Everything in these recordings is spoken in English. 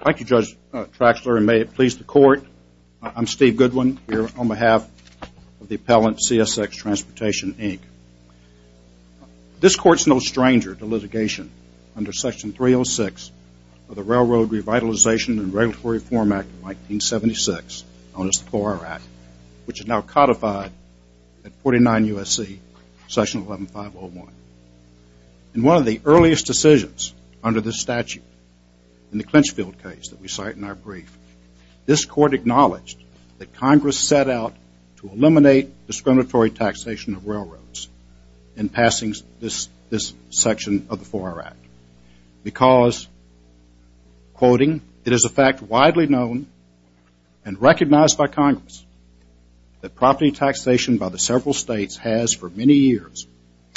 Thank you, Judge Traxler, and may it please the Court, I'm Steve Goodwin, here on behalf of the appellant, CSX Transportation, Inc. This Court's no stranger to litigation under Section 306 of the Railroad Revitalization and Regulatory Reform Act of 1976, known as the 4R Act, which is now codified at 49 U.S.C., Section 11501. In one of the earliest decisions under this statute, in the Clinchfield case that we cite in our brief, this Court acknowledged that Congress set out to eliminate discriminatory taxation of railroads in passing this section of the 4R Act because, quoting, it is a fact widely known and recognized by Congress that property taxation by the several states has for many years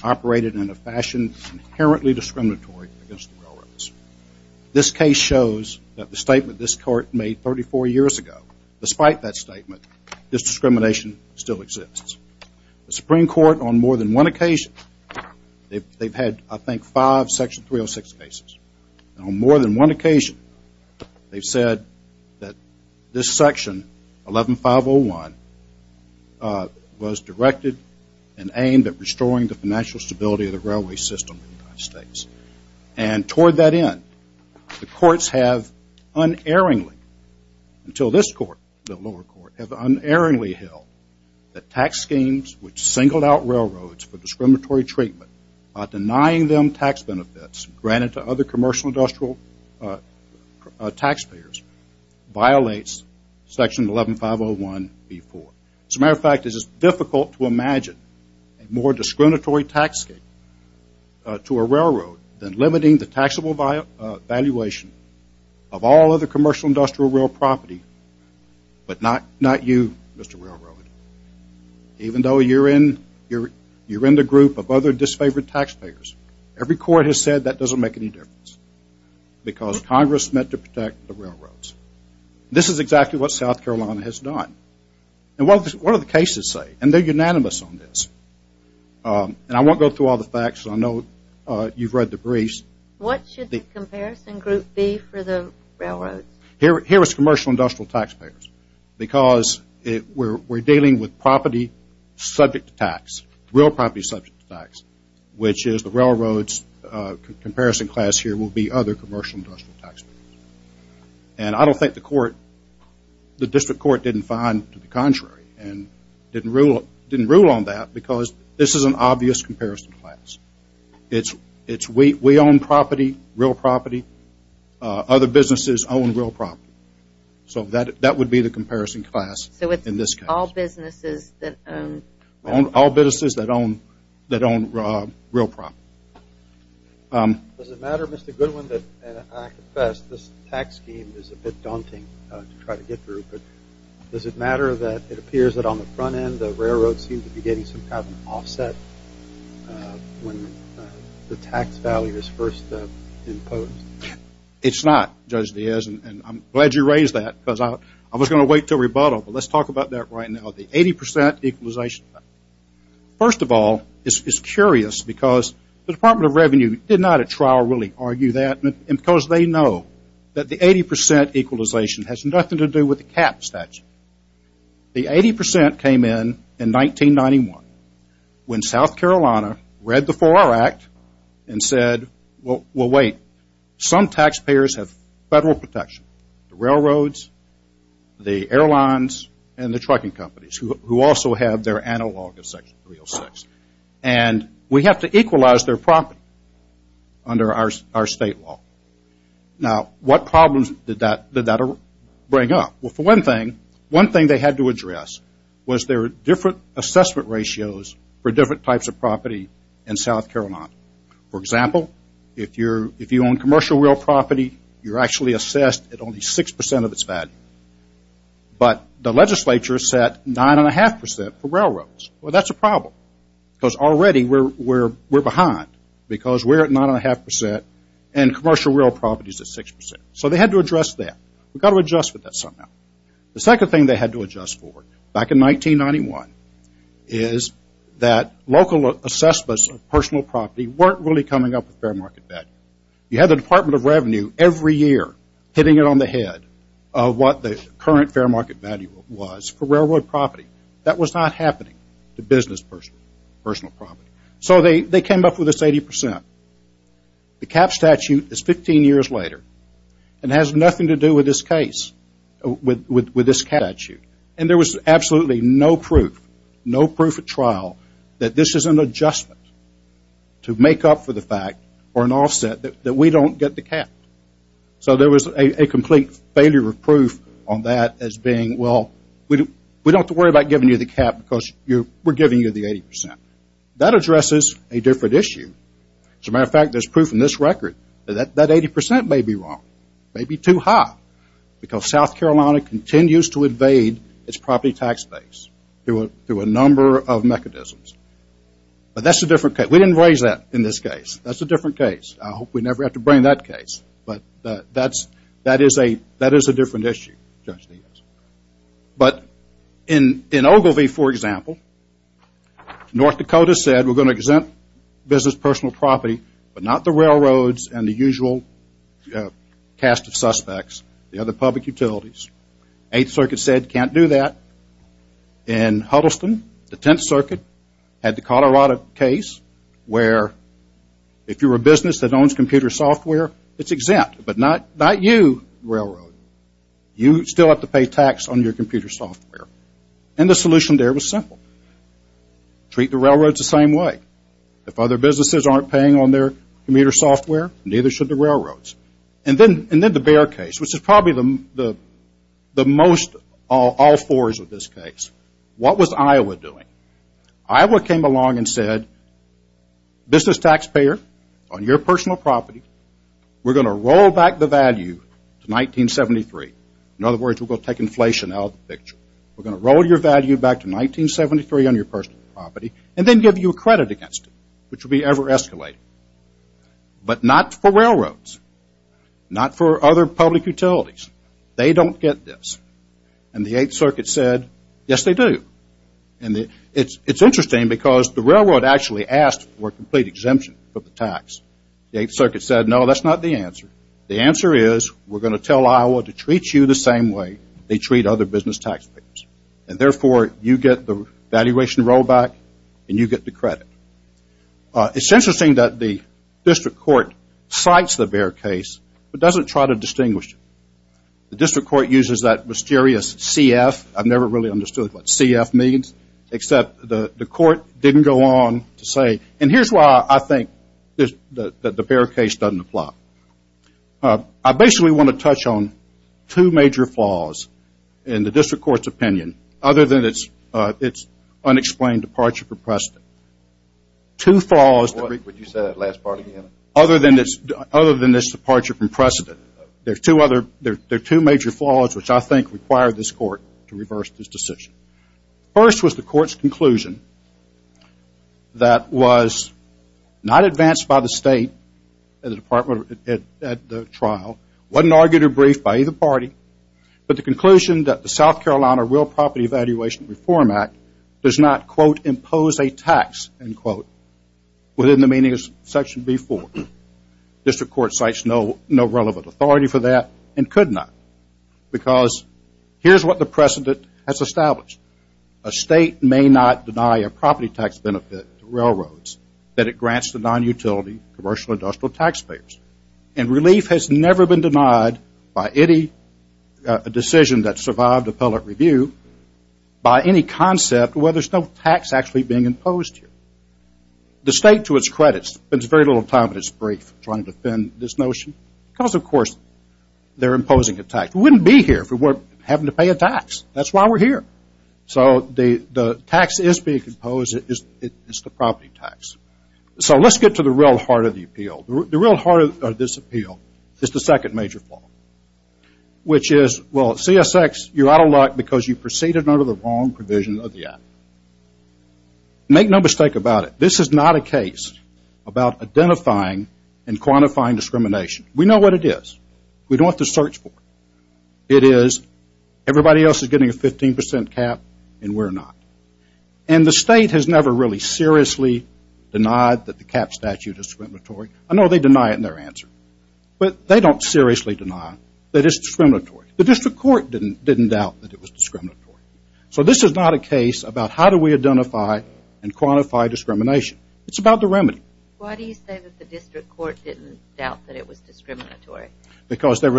operated in a fashion inherently discriminatory against the railroads. This case shows that the statement this Court made 34 years ago, despite that statement, this discrimination still exists. The Supreme Court, on more than one occasion, they've had, I think, five Section 306 cases. And on more than one occasion, they've said that this section, 11501, was directed and aimed at restoring the financial stability of the railway system in the United States. And toward that end, the courts have unerringly, until this Court, the lower court, have unerringly held that tax schemes which singled out railroads for discriminatory treatment, denying them tax benefits granted to other commercial industrial taxpayers, violates Section 11501B4. As a matter of fact, it is difficult to imagine a more discriminatory tax scheme to a railroad than limiting the taxable valuation of all other commercial industrial rail property, but not you, Mr. Railroad. Even though you're in the group of other disfavored taxpayers, every court has said that doesn't make any difference, because Congress meant to protect the railroads. This is exactly what South Carolina has done. And what do the cases say? And they're unanimous on this. And I won't go through all the facts, because I know you've read the briefs. What should the comparison group be for the railroads? Here it's commercial industrial taxpayers, because we're dealing with property subject to tax, real property subject to tax, which is the railroads comparison class here will be other commercial industrial taxpayers. And I don't think the District Court didn't find to the contrary and didn't rule on that, because this is an obvious comparison class. It's we own property, real property. Other businesses own real property. So that would be the comparison class in this case. So it's all businesses that own? All businesses that own real property. Does it matter, Mr. Goodwin, that I confess this tax scheme is a bit daunting to try to get through, but does it matter that it appears that on the front end the railroads seem to be getting some kind of an offset when the tax value is first imposed? It's not, Judge Diaz, and I'm glad you raised that, because I was going to wait until rebuttal, but let's talk about that right now, the 80% equalization. First of all, it's curious, because the Department of Revenue did not at trial really argue that, and because they know that the 80% equalization has nothing to do with the cap statute. The 80% came in in 1991 when South Carolina read the 4R Act and said, well, wait, some taxpayers have federal protection, the railroads, the airlines, and the trucking companies who also have their analog of Section 306. And we have to equalize their property under our state law. Now what problems did that bring up? Well, for one thing, one thing they had to address was their different assessment ratios for different types of property in South Carolina. For example, if you own commercial real property, you're actually assessed at only 6% of its value, but the legislature set 9.5% for railroads. Well, that's a problem, because already we're behind, because we're at 9.5% and commercial real property is at 6%. So they had to address that. We've got to adjust with that somehow. The second thing they had to adjust for back in 1991 is that local assessments of personal property weren't really coming up with fair market value. You had the Department of Revenue every year hitting it on the head of what the current fair market value was for railroad property. That was not happening to business personal property. So they came up with this 80%. The cap statute is 15 years later and has nothing to do with this case, with this statute. And there was absolutely no proof, no proof at trial that this is an adjustment to make up for the fact or an offset that we don't get the cap. So there was a complete failure of proof on that as being, well, we don't have to worry about giving you the cap because we're giving you the 80%. That addresses a different issue. As a matter of fact, there's proof in this record that that 80% may be wrong, may be too high, because South Carolina continues to invade its property tax base through a number of mechanisms. But that's a different case. We didn't raise that in this case. That's a different case. I hope we never have to bring that case. But that is a different issue, Judge Niels. But in Ogilvy, for example, North Dakota said we're going to exempt business personal property, but not the railroads and the usual cast of suspects, the other public utilities. Eighth Circuit said can't do that. In Huddleston, the Tenth Circuit had the Colorado case where if you're a business that owns computer software, it's exempt, but not you, railroad. You still have to pay tax on your computer software, and the solution there was simple. Treat the railroads the same way. If other businesses aren't paying on their computer software, neither should the railroads. And then the Bear case, which is probably the most, all fours of this case. What was Iowa doing? Iowa came along and said, business taxpayer, on your personal property, we're going to roll back the value to 1973. In other words, we're going to take inflation out of the picture. We're going to roll your value back to 1973 on your personal property and then give you credit against it, which would be ever escalating. But not for railroads. Not for other public utilities. They don't get this. And the Eighth Circuit said, yes, they do. And it's interesting because the railroad actually asked for a complete exemption for the tax. The Eighth Circuit said, no, that's not the answer. The answer is, we're going to tell Iowa to treat you the same way they treat other business taxpayers. And, therefore, you get the valuation rollback and you get the credit. It's interesting that the district court cites the Bear case, but doesn't try to distinguish it. The district court uses that mysterious CF. I've never really understood what CF means, except the court didn't go on to say, and here's why I think that the Bear case doesn't apply. I basically want to touch on two major flaws in the district court's opinion, other than its unexplained departure from precedent. Two flaws. Would you say that last part again? Other than this departure from precedent. There's two other, there are two major flaws which I think require this court to reverse this decision. First was the court's conclusion that was not advanced by the state and the department at the trial, wasn't argued or briefed by either party, but the conclusion that the South Carolina Real Property Evaluation Reform Act does not, quote, impose a tax, end quote, within the meaning of section B4. District court cites no relevant authority for that and could not, because here's what the precedent has established. A state may not deny a property tax benefit to railroads that it grants to non-utility commercial industrial taxpayers, and relief has never been denied by any decision that survived appellate review by any concept where there's no tax actually being imposed here. The state, to its credit, spends very little time in its brief trying to defend this notion, because, of course, they're imposing a tax. We wouldn't be here if we weren't having to pay a tax. That's why we're here. So the tax is being imposed. It's the property tax. So let's get to the real heart of the appeal. The real heart of this appeal is the second major flaw, which is, well, CSX, you're out of luck because you proceeded under the wrong provision of the act. Make no mistake about it. This is not a case about identifying and quantifying discrimination. We know what it is. We don't have to search for it. It is everybody else is getting a 15% cap, and we're not. And the state has never really seriously denied that the cap statute is discriminatory. I know they deny it in their answer, but they don't seriously deny that it's discriminatory. The district court didn't doubt that it was discriminatory. So this is not a case about how do we identify and quantify discrimination. It's about the remedy. Why do you say that the district court didn't doubt that it was discriminatory? Because the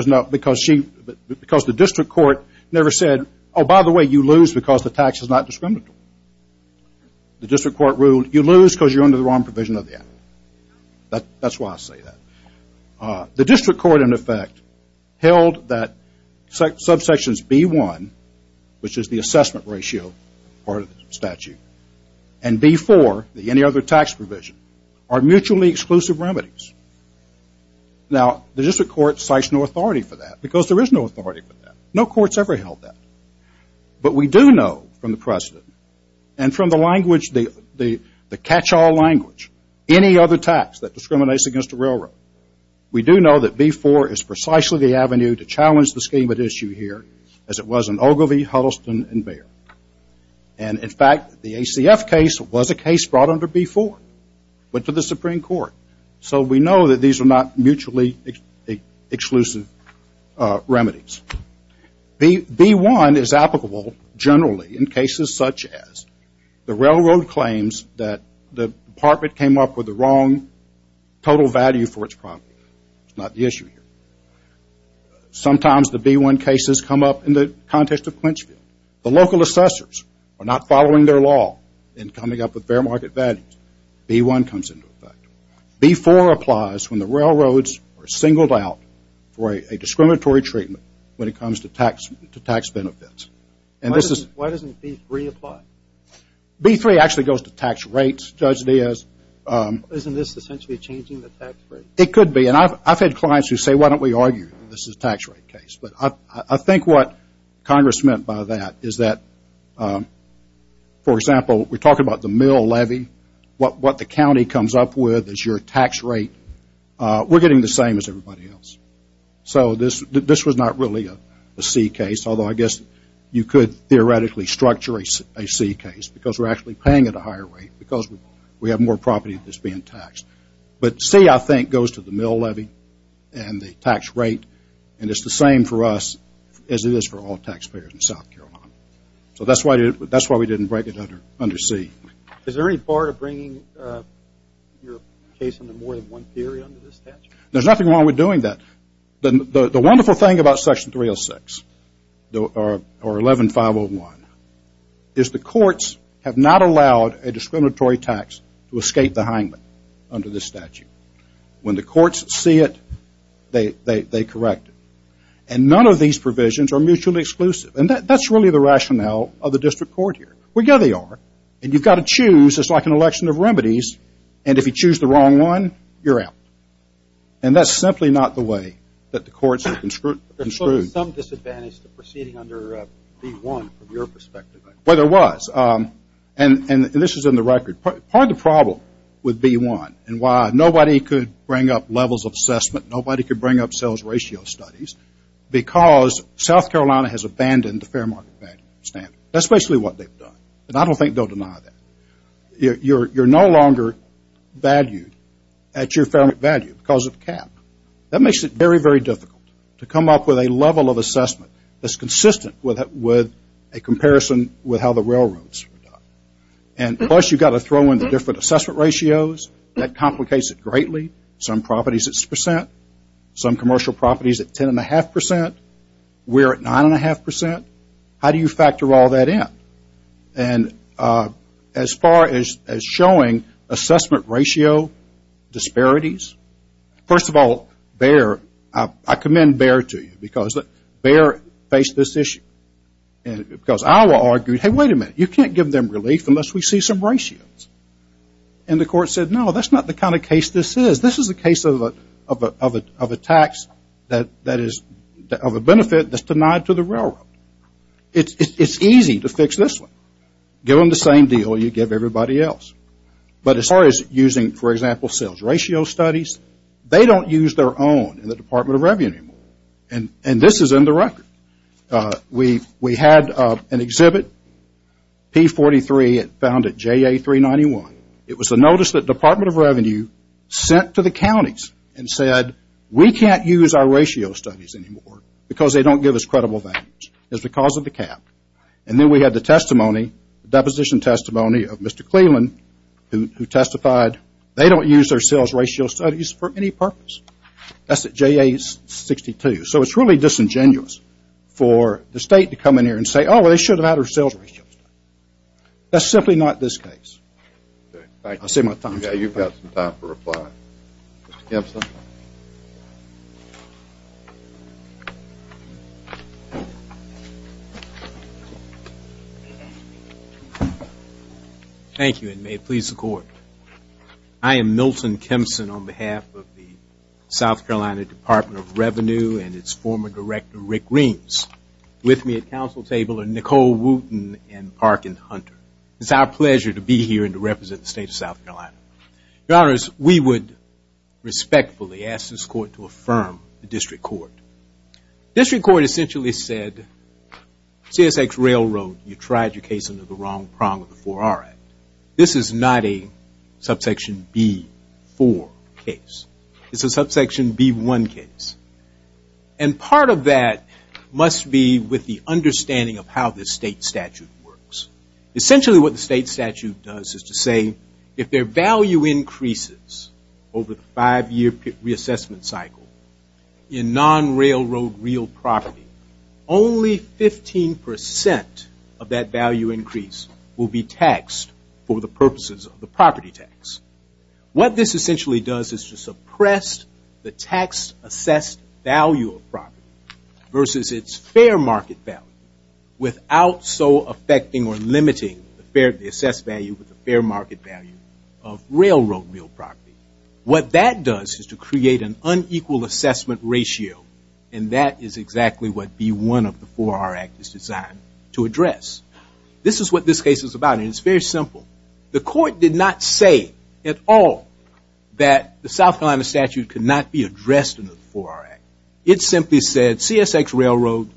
district court never said, oh, by the way, you lose because the tax is not discriminatory. The district court ruled, you lose because you're under the wrong provision of the act. That's why I say that. The district court, in effect, held that subsections B1, which is the assessment ratio part of the statute, and B4, the any other tax provision, are mutually exclusive remedies. Now, the district court cites no authority for that because there is no authority for that. No court's ever held that. But we do know from the president and from the language, the catch-all language, any other tax that discriminates against a railroad, we do know that B4 is precisely the avenue to challenge the scheme at issue here as it was in Ogilvie, Huddleston, and Bexar. And, in fact, the ACF case was a case brought under B4, went to the Supreme Court. So we know that these are not mutually exclusive remedies. B1 is applicable generally in cases such as the railroad claims that the department came up with the wrong total value for its property. It's not the issue here. Sometimes the B1 cases come up in the context of Quinchfield. The local assessors are not following their law in coming up with fair market values. B1 comes into effect. B4 applies when the railroads are singled out for a discriminatory treatment when it comes to tax benefits. And this is... Why doesn't B3 apply? B3 actually goes to tax rates, Judge Diaz. Isn't this essentially changing the tax rate? It could be. And I've had clients who say, why don't we argue this is a tax rate case? But I think what Congress meant by that is that, for example, we're talking about the mill levy. What the county comes up with is your tax rate. We're getting the same as everybody else. So this was not really a C case, although I guess you could theoretically structure a C case because we're actually paying at a higher rate because we have more property that's being taxed. But C, I think, goes to the mill levy and the tax rate, and it's the same for us as it is for all taxpayers in South Carolina. So that's why we didn't break it under C. Is there any part of bringing your case into more than one period under this statute? There's nothing wrong with doing that. The wonderful thing about Section 306 or 11501 is the courts have not allowed a discriminatory tax to escape the hangman under this statute. When the courts see it, they correct it. And none of these provisions are mutually exclusive. And that's really the rationale of the district court here. We know they are. And you've got to choose. It's like an election of remedies. And if you choose the wrong one, you're out. And that's simply not the way that the courts are construed. There's certainly some disadvantage to proceeding under B1 from your perspective. Well, there was. And this is in the record. Part of the problem with B1 and why nobody could bring up levels of assessment, nobody could bring up sales ratio studies, because South Carolina has abandoned the fair market value standard. That's basically what they've done. And I don't think they'll deny that. You're no longer valued at your fair market value because of the cap. That makes it very, very difficult to come up with a level of assessment that's consistent with a comparison with how the railroads are done. And plus, you've got to throw in the different assessment ratios. That complicates it greatly. Some properties at 6%. Some commercial properties at 10.5%. We're at 9.5%. How do you factor all that in? And as far as showing assessment ratio disparities, first of all, I commend Bayer to you because Bayer faced this issue. And because Iowa argued, hey, wait a minute, you can't give them relief unless we see some ratios. And the court said, no, that's not the kind of case this is. This is a case of a tax that is of a benefit that's denied to the railroad. It's easy to fix this one. Give them the same deal you give everybody else. But as far as using, for example, sales ratio studies, they don't use their own in the Department of Revenue anymore. And this is in the record. We had an exhibit, P43, found at JA391. It was a notice that Department of Revenue sent to the counties and said, we can't use our ratio studies anymore because they don't give us credible values. It's because of the cap. And then we had the testimony, the deposition testimony of Mr. Cleland, who testified, they don't use their sales ratio studies for any purpose. That's at JA62. So it's really disingenuous for the state to come in here and say, oh, well, they should have had our sales ratios. That's simply not this case. I'll save my time. Yeah, you've got some time for reply. Mr. Kempson. Thank you, and may it please the court. I am Milton Kempson on behalf of the South Carolina Department of Revenue and its former director, Rick Reams. With me at council table are Nicole Wooten and Parkin Hunter. It's our pleasure to be here and to represent the state of South Carolina. Your honors, we would respectfully ask this court to affirm the district court. District court essentially said, CSX Railroad, you tried your case under the wrong prong of the 4R Act. This is not a subsection B4 case. It's a subsection B1 case. And part of that must be with the understanding of how the state statute works. Essentially what the state statute does is to say, if their value increases over the five-year reassessment cycle in non-railroad real property, only 15% of that value increase will be taxed for the purposes of the property tax. What this essentially does is to suppress the tax-assessed value of property versus its fair market value, without so affecting or limiting the assessed value with the fair market value of railroad real property. What that does is to create an unequal assessment ratio. And that is exactly what B1 of the 4R Act is designed to address. This is what this case is about, and it's very simple. The court did not say at all that the South Carolina statute could not be addressed in the 4R Act. It simply said, CSX Railroad,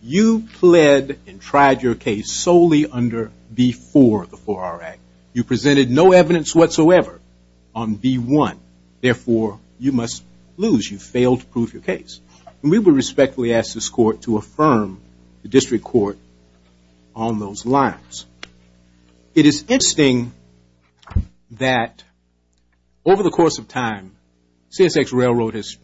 you pled and tried your case solely under B4 of the 4R Act. You presented no evidence whatsoever on B1. Therefore, you must lose. You failed to prove your case. And we would respectfully ask this court to affirm the district court on those lines. It is interesting that over the course of time, CSX Railroad has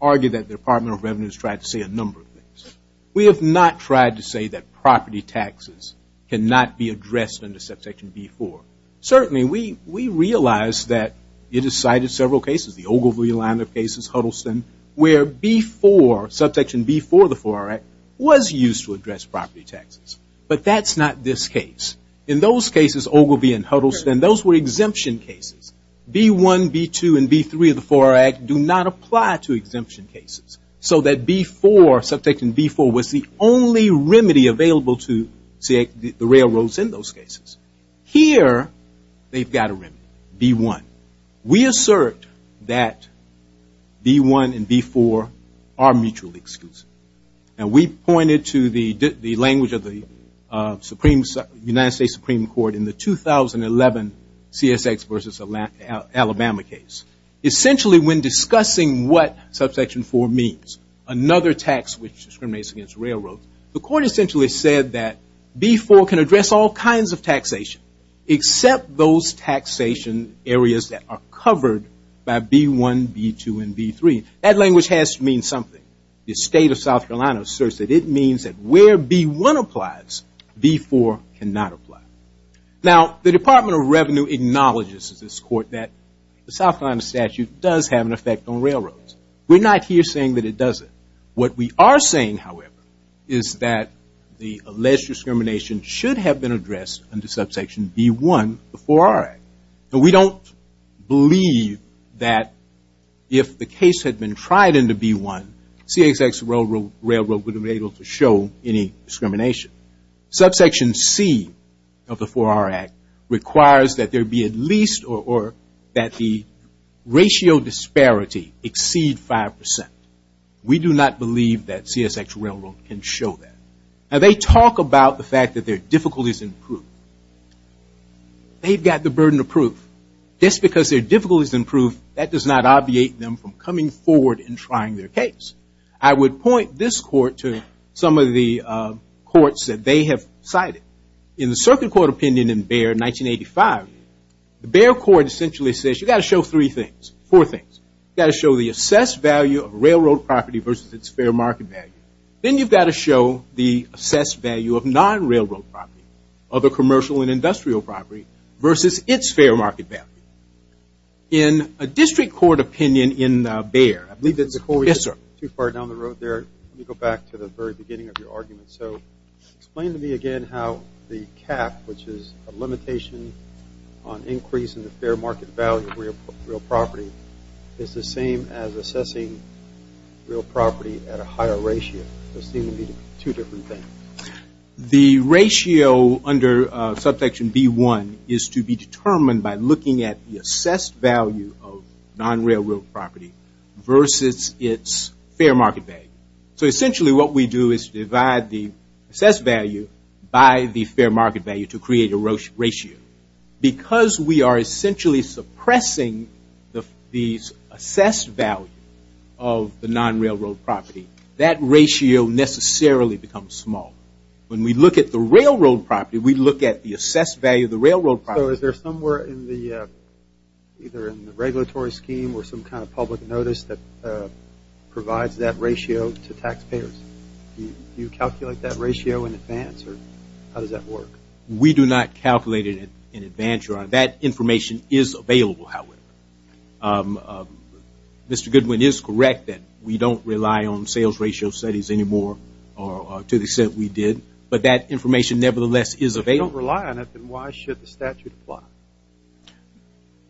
argued that the Department of Revenue has tried to say a number of things. We have not tried to say that property taxes cannot be addressed under subsection B4. Certainly, we realize that it is cited in several cases, the Ogilvie line of cases, Huddleston, where B4, subsection B4 of the 4R Act, was used to address property taxes. But that's not this case. In those cases, Ogilvie and Huddleston, those were exemption cases. B1, B2, and B3 of the 4R Act do not apply to exemption cases. So that B4, subsection B4, was the only remedy available to the railroads in those cases. Here, they've got a remedy, B1. We assert that B1 and B4 are mutually exclusive. And we pointed to the language of the United States Supreme Court in the 2011 CSX versus Alabama case. Essentially, when discussing what subsection 4 means, another tax which discriminates against railroads, the court essentially said that B4 can address all kinds of taxation, except those taxation areas that are covered by B1, B2, and B3. That language has to mean something. The state of South Carolina asserts that it means that where B1 applies, B4 cannot apply. Now, the Department of Revenue acknowledges to this court that the South Carolina statute does have an effect on railroads. We're not here saying that it doesn't. What we are saying, however, is that the alleged discrimination should have been addressed under subsection B1 of the 4R Act. And we don't believe that if the case had been tried under B1, CSX railroad would have been able to show any discrimination. Subsection C of the 4R Act requires that there be at least, or that the ratio disparity exceed 5%. We do not believe that CSX railroad can show that. Now, they talk about the fact that their difficulties in proof. They've got the burden of proof. Just because their difficulties in proof, that does not obviate them from coming forward and trying their case. I would point this court to some of the courts that they have cited. In the Circuit Court opinion in Bayer, 1985, the Bayer court essentially says, you've got to show three things, four things. You've got to show the assessed value of railroad property versus its fair market value. Then you've got to show the assessed value of non-railroad property, other commercial and industrial property, versus its fair market value. In a district court opinion in Bayer, I believe that's a court decision. Yes, sir. Too far down the road there. Let me go back to the very beginning of your argument. So explain to me again how the cap, which is a limitation on increase in the fair market value of real property, is the same as assessing real property at a higher ratio. Those seem to be two different things. The ratio under Subsection B1 is to be determined by looking at the assessed value of non-railroad property versus its fair market value. So essentially what we do is divide the assessed value by the fair market value to create a ratio. Because we are essentially suppressing the assessed value of the non-railroad property, that ratio necessarily becomes small. When we look at the railroad property, we look at the assessed value of the railroad property. So is there somewhere in the regulatory scheme or some kind of public notice that provides that ratio to taxpayers? Do you calculate that ratio in advance, or how does that work? We do not calculate it in advance, Your Honor. That information is available, however. Mr. Goodwin is correct that we don't rely on sales ratio studies anymore, or to the extent we did. But that information, nevertheless, is available. If you don't rely on it, then why should the statute apply?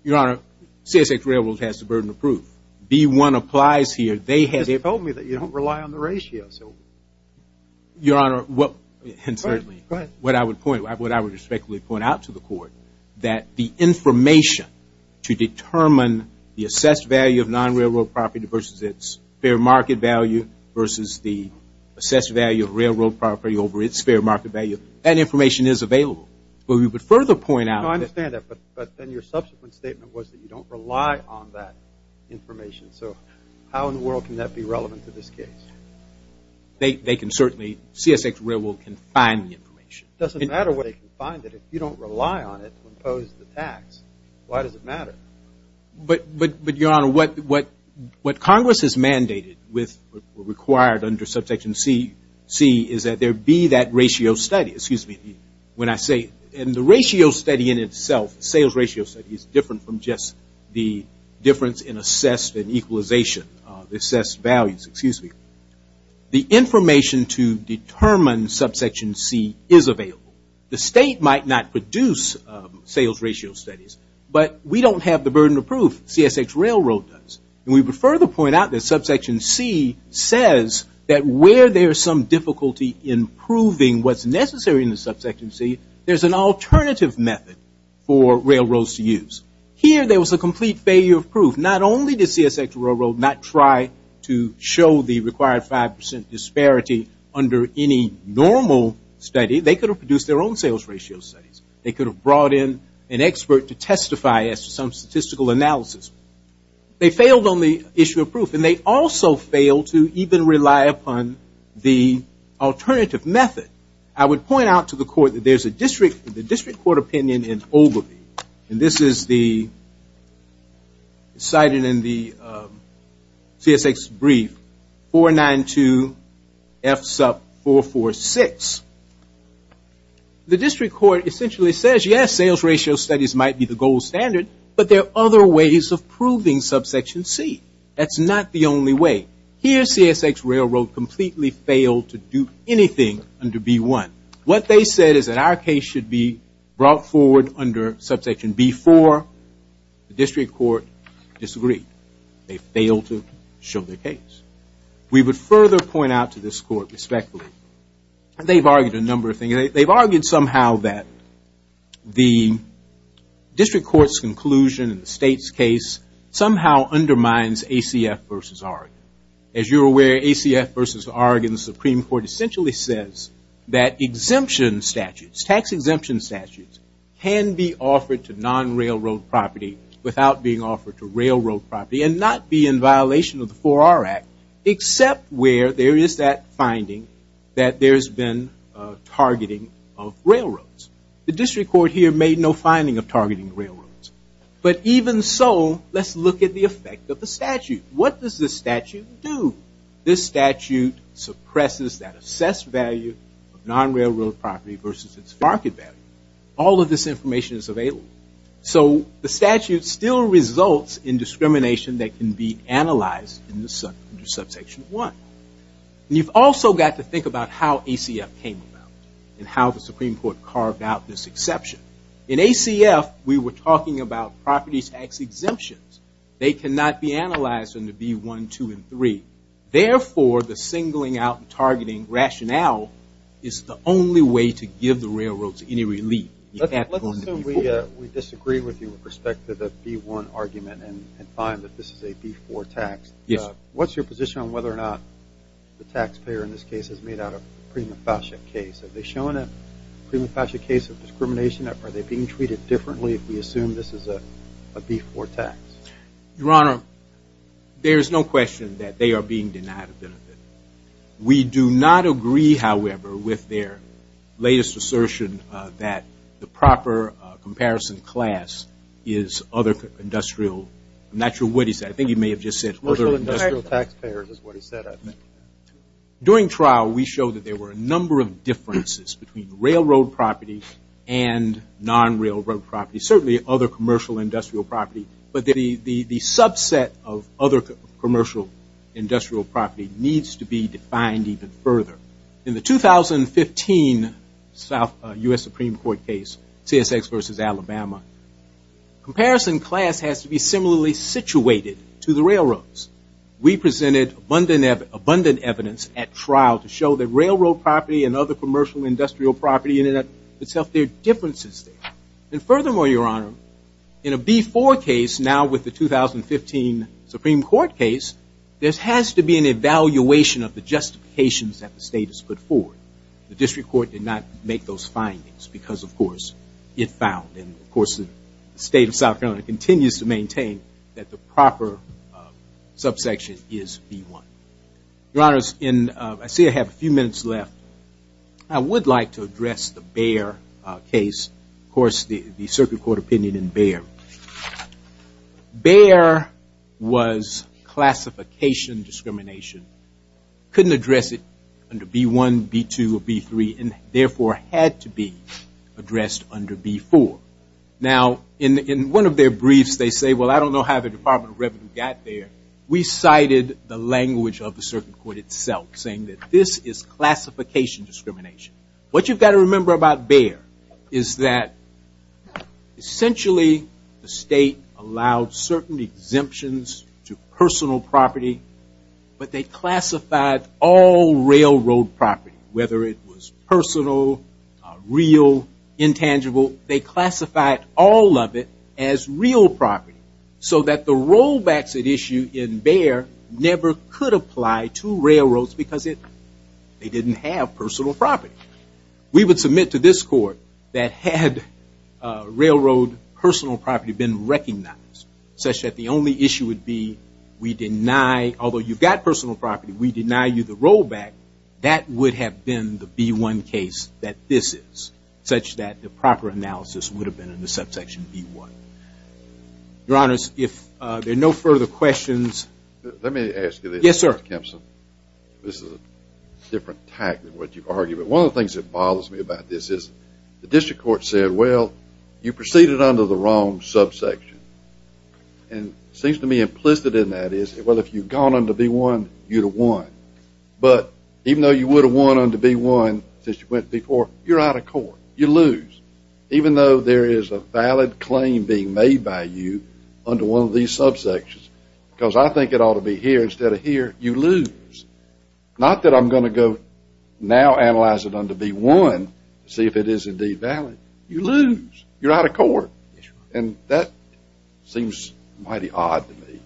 Your Honor, CSX Railroad has the burden of proof. B1 applies here. They have it. You just told me that you don't rely on the ratio. Your Honor, what I would point, what I would respectfully point out to the Court, that the information to determine the assessed value of non-railroad property versus its fair market value versus the assessed value of railroad property over its fair market value, that information is available. But we would further point out that. No, I understand that, but then your subsequent statement was that you don't rely on that information. So how in the world can that be relevant to this case? They can certainly, CSX Railroad can find the information. It doesn't matter where they can find it. If you don't rely on it to impose the tax, why does it matter? But your Honor, what Congress has mandated with what were required under subsection C is that there be that ratio study. Excuse me. When I say, and the ratio study in itself, sales ratio study is different from just the difference in assessed and equalization, the assessed values, excuse me. The information to determine subsection C is available. The state might not produce sales ratio studies, but we don't have the burden of proof. CSX Railroad does. And we would further point out that subsection C says that where there's some difficulty in proving what's necessary in the subsection C, there's an alternative method for railroads to use. Here there was a complete failure of proof. Not only did CSX Railroad not try to show the required 5% disparity under any normal study, they could have produced their own sales ratio studies. They could have brought in an expert to testify as to some statistical analysis. They failed on the issue of proof, and they also failed to even rely upon the alternative method. I would point out to the court that there's a district, the district court opinion in Ogilvie, and this is the, cited in the CSX brief, 492F446, the district court essentially says, yes, sales ratio studies might be the gold standard, but there are other ways of proving subsection C. That's not the only way. Here CSX Railroad completely failed to do anything under B1. What they said is that our case should be brought forward under subsection B4. The district court disagreed. They failed to show their case. We would further point out to this court respectfully, and they've argued a number of things. They've argued somehow that the district court's conclusion in the state's case somehow undermines ACF versus Oregon. As you're aware, ACF versus Oregon, the Supreme Court essentially says that exemption statutes, tax exemption statutes, can be offered to non-railroad property without being offered to railroad property and not be in violation of the 4R Act, except where there is that finding that there's been targeting of railroads. The district court here made no finding of targeting railroads, but even so, let's look at the effect of the statute. What does this statute do? This statute suppresses that assessed value of non-railroad property versus its market value. All of this information is available. So the statute still results in discrimination that can be analyzed in the subsection one. You've also got to think about how ACF came about and how the Supreme Court carved out this exception. In ACF, we were talking about property tax exemptions. They cannot be analyzed under B1, 2, and 3. Therefore, the singling out and targeting rationale is the only way to give the railroads any relief. Let's assume we disagree with you with respect to the B1 argument and find that this is a B4 tax. What's your position on whether or not the taxpayer in this case has made out a prima facie case? Have they shown a prima facie case of discrimination? Are they being treated differently if we assume this is a B4 tax? Your Honor, there's no question that they are being denied a benefit. We do not agree, however, with their latest assertion that the proper comparison class is other industrial. I'm not sure what he said. I think he may have just said other industrial taxpayers is what he said, I think. During trial, we showed that there were a number of differences between railroad property and non-railroad property, certainly other commercial industrial property, but the subset of other commercial industrial property needs to be defined even further. In the 2015 U.S. Supreme Court case, CSX versus Alabama, comparison class has to be similarly situated to the railroads. We presented abundant evidence at trial to show that railroad property and other commercial industrial property in and of itself, there are differences there. And furthermore, Your Honor, in a B4 case now with the 2015 Supreme Court case, there has to be an evaluation of the justifications that the state has put forward. The district court did not make those findings because, of course, it found, and, of course, the state of South Carolina continues to maintain that the proper subsection is B1. Your Honors, I see I have a few minutes left. I would like to address the Bayer case, of course, the circuit court opinion in Bayer. Bayer was classification discrimination. Couldn't address it under B1, B2, or B3, and therefore had to be addressed under B4. Now, in one of their briefs, they say, well, I don't know how the Department of Revenue got there. We cited the language of the circuit court itself, saying that this is classification discrimination. What you've got to remember about Bayer is that essentially the state allowed certain exemptions to personal property, but they classified all railroad property, whether it was personal, real, intangible, they classified all of it as real property so that the rollbacks at issue in Bayer never could apply to railroads because they didn't have personal property. We would submit to this court that had railroad personal property been recognized such that the only issue would be, we deny, although you've got personal property, we deny you the rollback, that would have been the B1 case that this is, such that the proper analysis would have been in the subsection B1. Your Honors, if there are no further questions. Let me ask you this. Yes, sir. Mr. Kempson, this is a different type than what you've argued, but one of the things that bothers me about this is the district court said, well, you proceeded under the wrong subsection. And it seems to me implicit in that is, well, if you'd gone under B1, you'd have won. But even though you would have won under B1 since you went before, you're out of court, you lose. Even though there is a valid claim being made by you under one of these subsections, because I think it ought to be here instead of here, you lose. Not that I'm gonna go now analyze it under B1, see if it is indeed valid, you lose. You're out of court. And that seems mighty odd to me.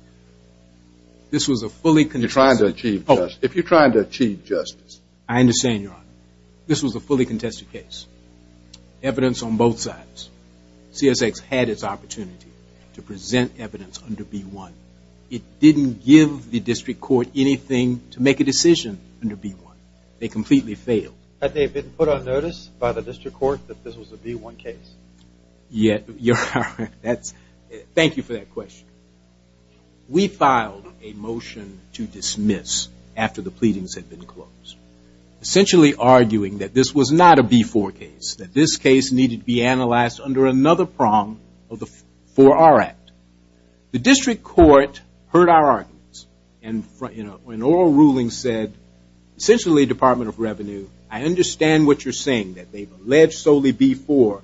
This was a fully contested case. You're trying to achieve justice. If you're trying to achieve justice. I understand, Your Honor. This was a fully contested case. Evidence on both sides. CSX had its opportunity to present evidence under B1. It didn't give the district court anything to make a decision under B1. They completely failed. Had they been put on notice by the district court that this was a B1 case? Yeah, Your Honor, thank you for that question. We filed a motion to dismiss after the pleadings had been closed. Essentially arguing that this was not a B4 case, that this case needed to be analyzed under another prong for our act. The district court heard our arguments and in an oral ruling said, essentially Department of Revenue, I understand what you're saying, that they've alleged solely B4,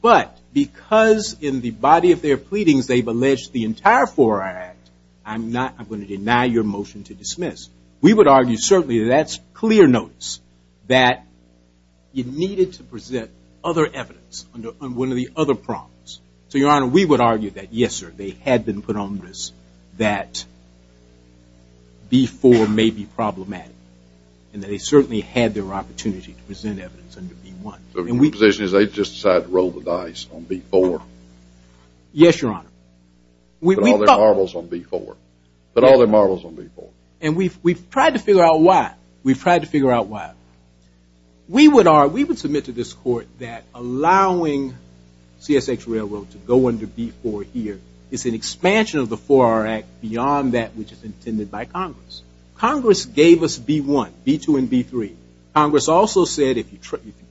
but because in the body of their pleadings they've alleged the entire four-hour act, I'm going to deny your motion to dismiss. We would argue certainly that's clear notice that you needed to present other evidence under one of the other prongs. So, Your Honor, we would argue that yes, sir, they had been put on notice that B4 may be problematic and that they certainly had their opportunity to present evidence under B1. So, your position is they just decided to roll the dice on B4? Yes, Your Honor. Put all their marbles on B4. Put all their marbles on B4. And we've tried to figure out why. We've tried to figure out why. We would submit to this court that allowing CSX Railroad to go under B4 here is an expansion of the four-hour act beyond that which is intended by Congress. Congress gave us B1, B2, and B3. Congress also said if you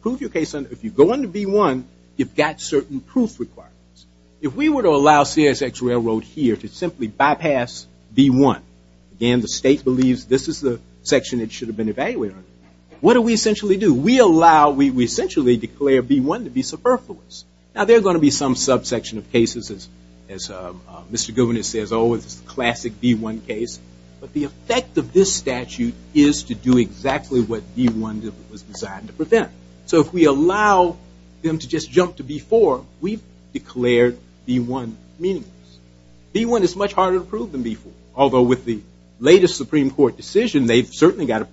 prove your case under, if you go under B1, you've got certain proof requirements. If we were to allow CSX Railroad here to simply bypass B1, again, the state believes this is the section it should have been evaluating, what do we essentially do? We allow, we essentially declare B1 to be superfluous. Now, there are going to be some subsection of cases as Mr. Guvinas says, oh, it's the classic B1 case. But the effect of this statute is to do exactly what B1 was designed to prevent. So if we allow them to just jump to B4, we've declared B1 meaningless. B1 is much harder to prove than B4, although with the latest Supreme Court decision, they've certainly got to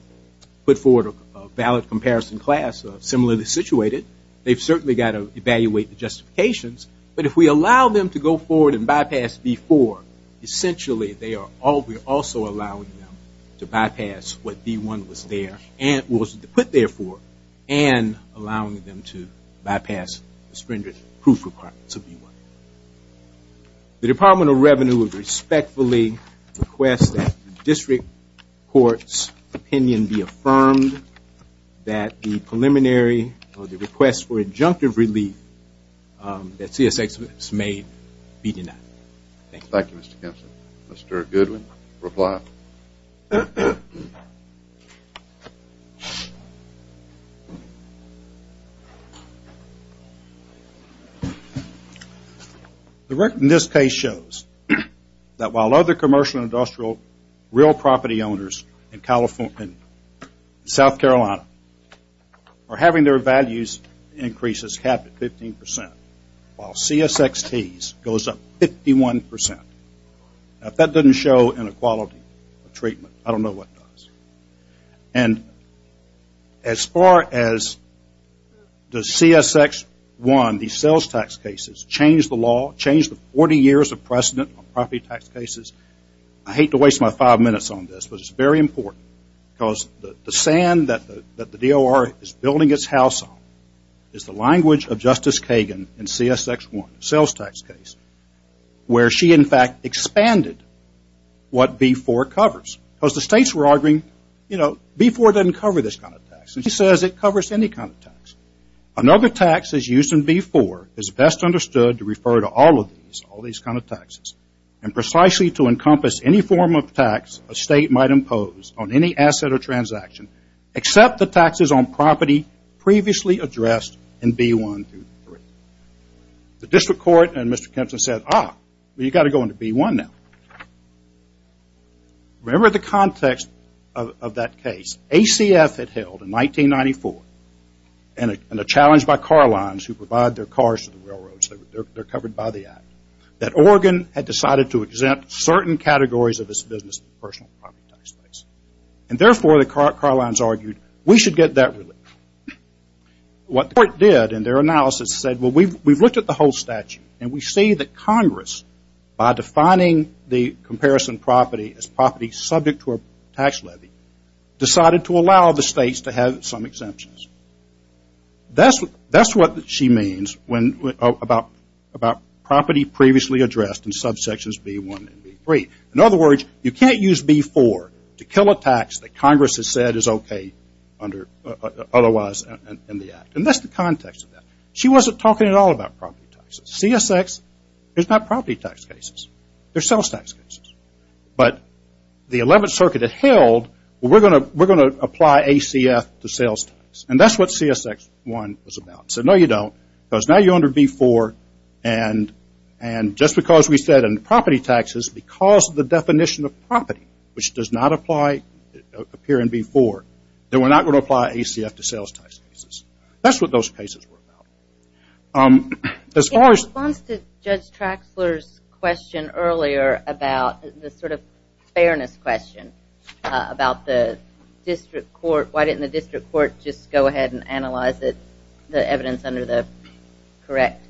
put forward a valid comparison class similarly situated. They've certainly got to evaluate the justifications. But if we allow them to go forward and bypass B4, essentially they are also allowing them to bypass what B1 was there, and was put there for, and allowing them to bypass the stringent proof requirements of B1. The Department of Revenue would respectfully request that the district court's opinion be affirmed that the preliminary or the request for adjunctive relief that CSX has made be denied. Thank you. Thank you, Mr. Kempson. Mr. Goodwin, reply. The record in this case shows that while other commercial industrial real property owners in California and South Carolina are having their values increases cap at 15%, while CSXT's goes up 51%. If that doesn't show inequality of treatment, I don't know what does. And as far as the CSX-1, these sales tax cases, change the law, change the 40 years of precedent on property tax cases, I hate to waste my five minutes on this, but it's very important, because the sand that the DOR is building its house on is the language of Justice Kagan in CSX-1, sales tax case, where she in fact expanded what B4 covers. Because the states were arguing, you know, B4 doesn't cover this kind of tax. And she says it covers any kind of tax. Another tax is used in B4, is best understood to refer to all of these, all these kinds of taxes. And precisely to encompass any form of tax a state might impose on any asset or transaction, except the taxes on property previously addressed in B1 through B3. The district court and Mr. Kempton said, ah, you got to go into B1 now. Remember the context of that case, ACF had held in 1994, and a challenge by car lines who provide their cars to the railroads, they're covered by the act, that Oregon had decided to exempt certain categories of its business and personal property tax rates. And therefore, the car lines argued, we should get that relief. What the court did in their analysis said, well, we've looked at the whole statute, and we see that Congress, by defining the comparison property as property subject to a tax levy, decided to allow the states to have some exemptions. That's what she means about property previously addressed in subsections B1 and B3. In other words, you can't use B4 to kill a tax that Congress has said is okay under otherwise in the act. And that's the context of that. She wasn't talking at all about property taxes. CSX is not property tax cases. They're sales tax cases. But the 11th Circuit had held, we're going to apply ACF to sales tax. And that's what CSX1 was about. Said, no, you don't, because now you're under B4. And just because we said in property taxes, because of the definition of property, which does not appear in B4, then we're not going to apply ACF to sales tax cases. That's what those cases were about. As far as- In response to Judge Traxler's question earlier about the sort of fairness question about the district court, why didn't the district court just go ahead and analyze the evidence under the correct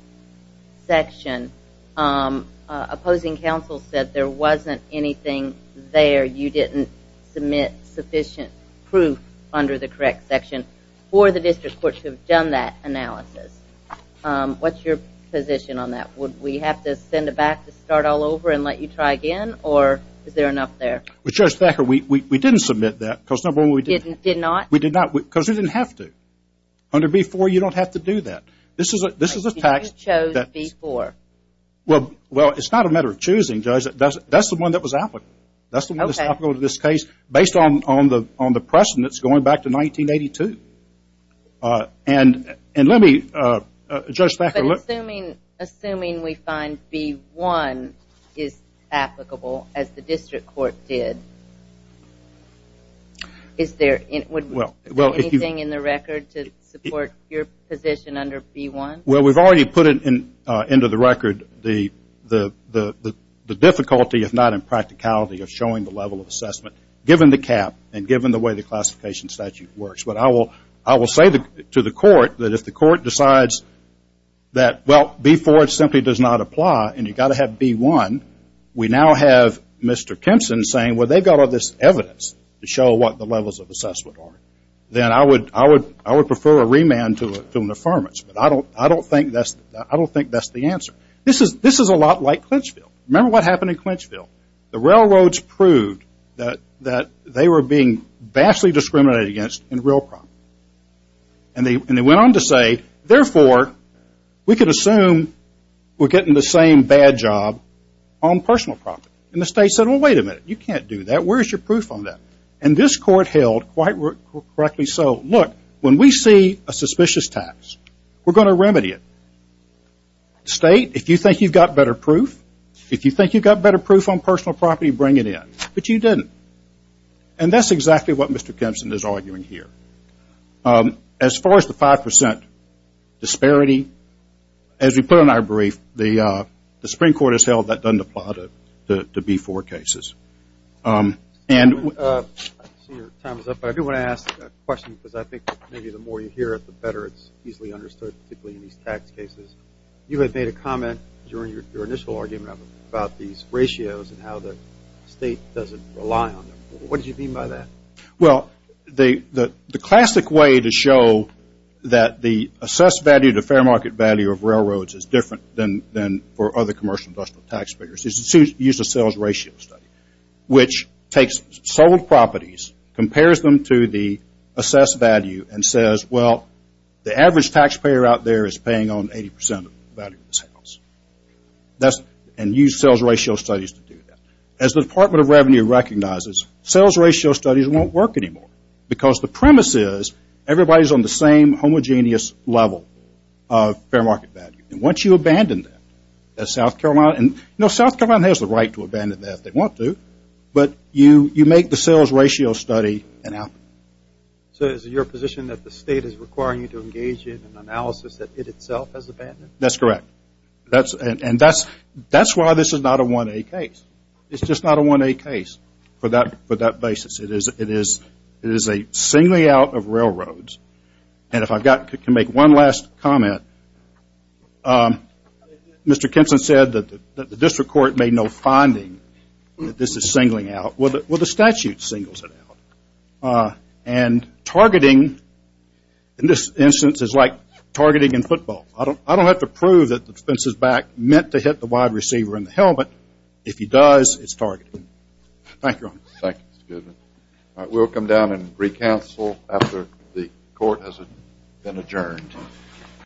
section, opposing counsel said there wasn't anything there. You didn't submit sufficient proof under the correct section for the district court to have done that analysis. What's your position on that? Would we have to send it back to start all over and let you try again? Or is there enough there? Well, Judge Thacker, we didn't submit that, because number one, we didn't. Did not? We did not, because we didn't have to. Under B4, you don't have to do that. This is a tax- Well, it's not a matter of choosing, Judge. That's the one that was applicable. That's the one that's applicable to this case, based on the precedents going back to 1982. And let me, Judge Thacker, look- But assuming we find B1 is applicable as the district court did, is there anything in the record to support your position under B1? Well, we've already put into the record the difficulty, if not impracticality, of showing the level of assessment, given the cap and given the way the classification statute works. But I will say to the court that if the court decides that, well, B4 simply does not apply, and you've got to have B1, we now have Mr. Kempson saying, well, they've got all this evidence to show what the levels of assessment are. Then I would prefer a remand to an affirmance. But I don't think that's the answer. This is a lot like Clinchfield. Remember what happened in Clinchfield. The railroads proved that they were being vastly discriminated against in real profit. And they went on to say, therefore, we could assume we're getting the same bad job on personal profit. And the state said, well, wait a minute. You can't do that. Where's your proof on that? And this court held, quite correctly so, look, when we see a suspicious tax, we're going to remedy it. State, if you think you've got better proof, if you think you've got better proof on personal property, bring it in. But you didn't. And that's exactly what Mr. Kempson is arguing here. As far as the 5% disparity, as we put in our brief, the Supreme Court has held that doesn't apply to B4 cases. And- I see your time is up, but I do want to ask a question, because I think maybe the more you hear it, the better it's easily understood, particularly in these tax cases. You had made a comment during your initial argument about these ratios and how the state doesn't rely on them. What did you mean by that? Well, the classic way to show that the assessed value to fair market value of railroads is different than for other commercial industrial tax payers is to use a sales ratio study, which takes sold properties, compares them to the assessed value, and says, well, the average taxpayer out there is paying on 80% of the value of the sales. And use sales ratio studies to do that. As the Department of Revenue recognizes, sales ratio studies won't work anymore, because the premise is everybody's on the same homogeneous level of fair market value. And once you abandon that, that South Carolina, and you know, South Carolina has the right to abandon that if they want to, but you make the sales ratio study an out. So is it your position that the state is requiring you to engage in an analysis that it itself has abandoned? That's correct. That's, and that's why this is not a 1A case. It's just not a 1A case for that basis. It is a singly out of railroads. And if I've got, can make one last comment. Mr. Kinson said that the district court made no finding that this is singling out. Well, the statute singles it out. And targeting, in this instance, is like targeting in football. I don't have to prove that the defense is back, meant to hit the wide receiver in the helmet. If he does, it's targeted. Thank you, Your Honor. Thank you, Mr. Goodman. All right, we'll come down and re-counsel after the court has been adjourned.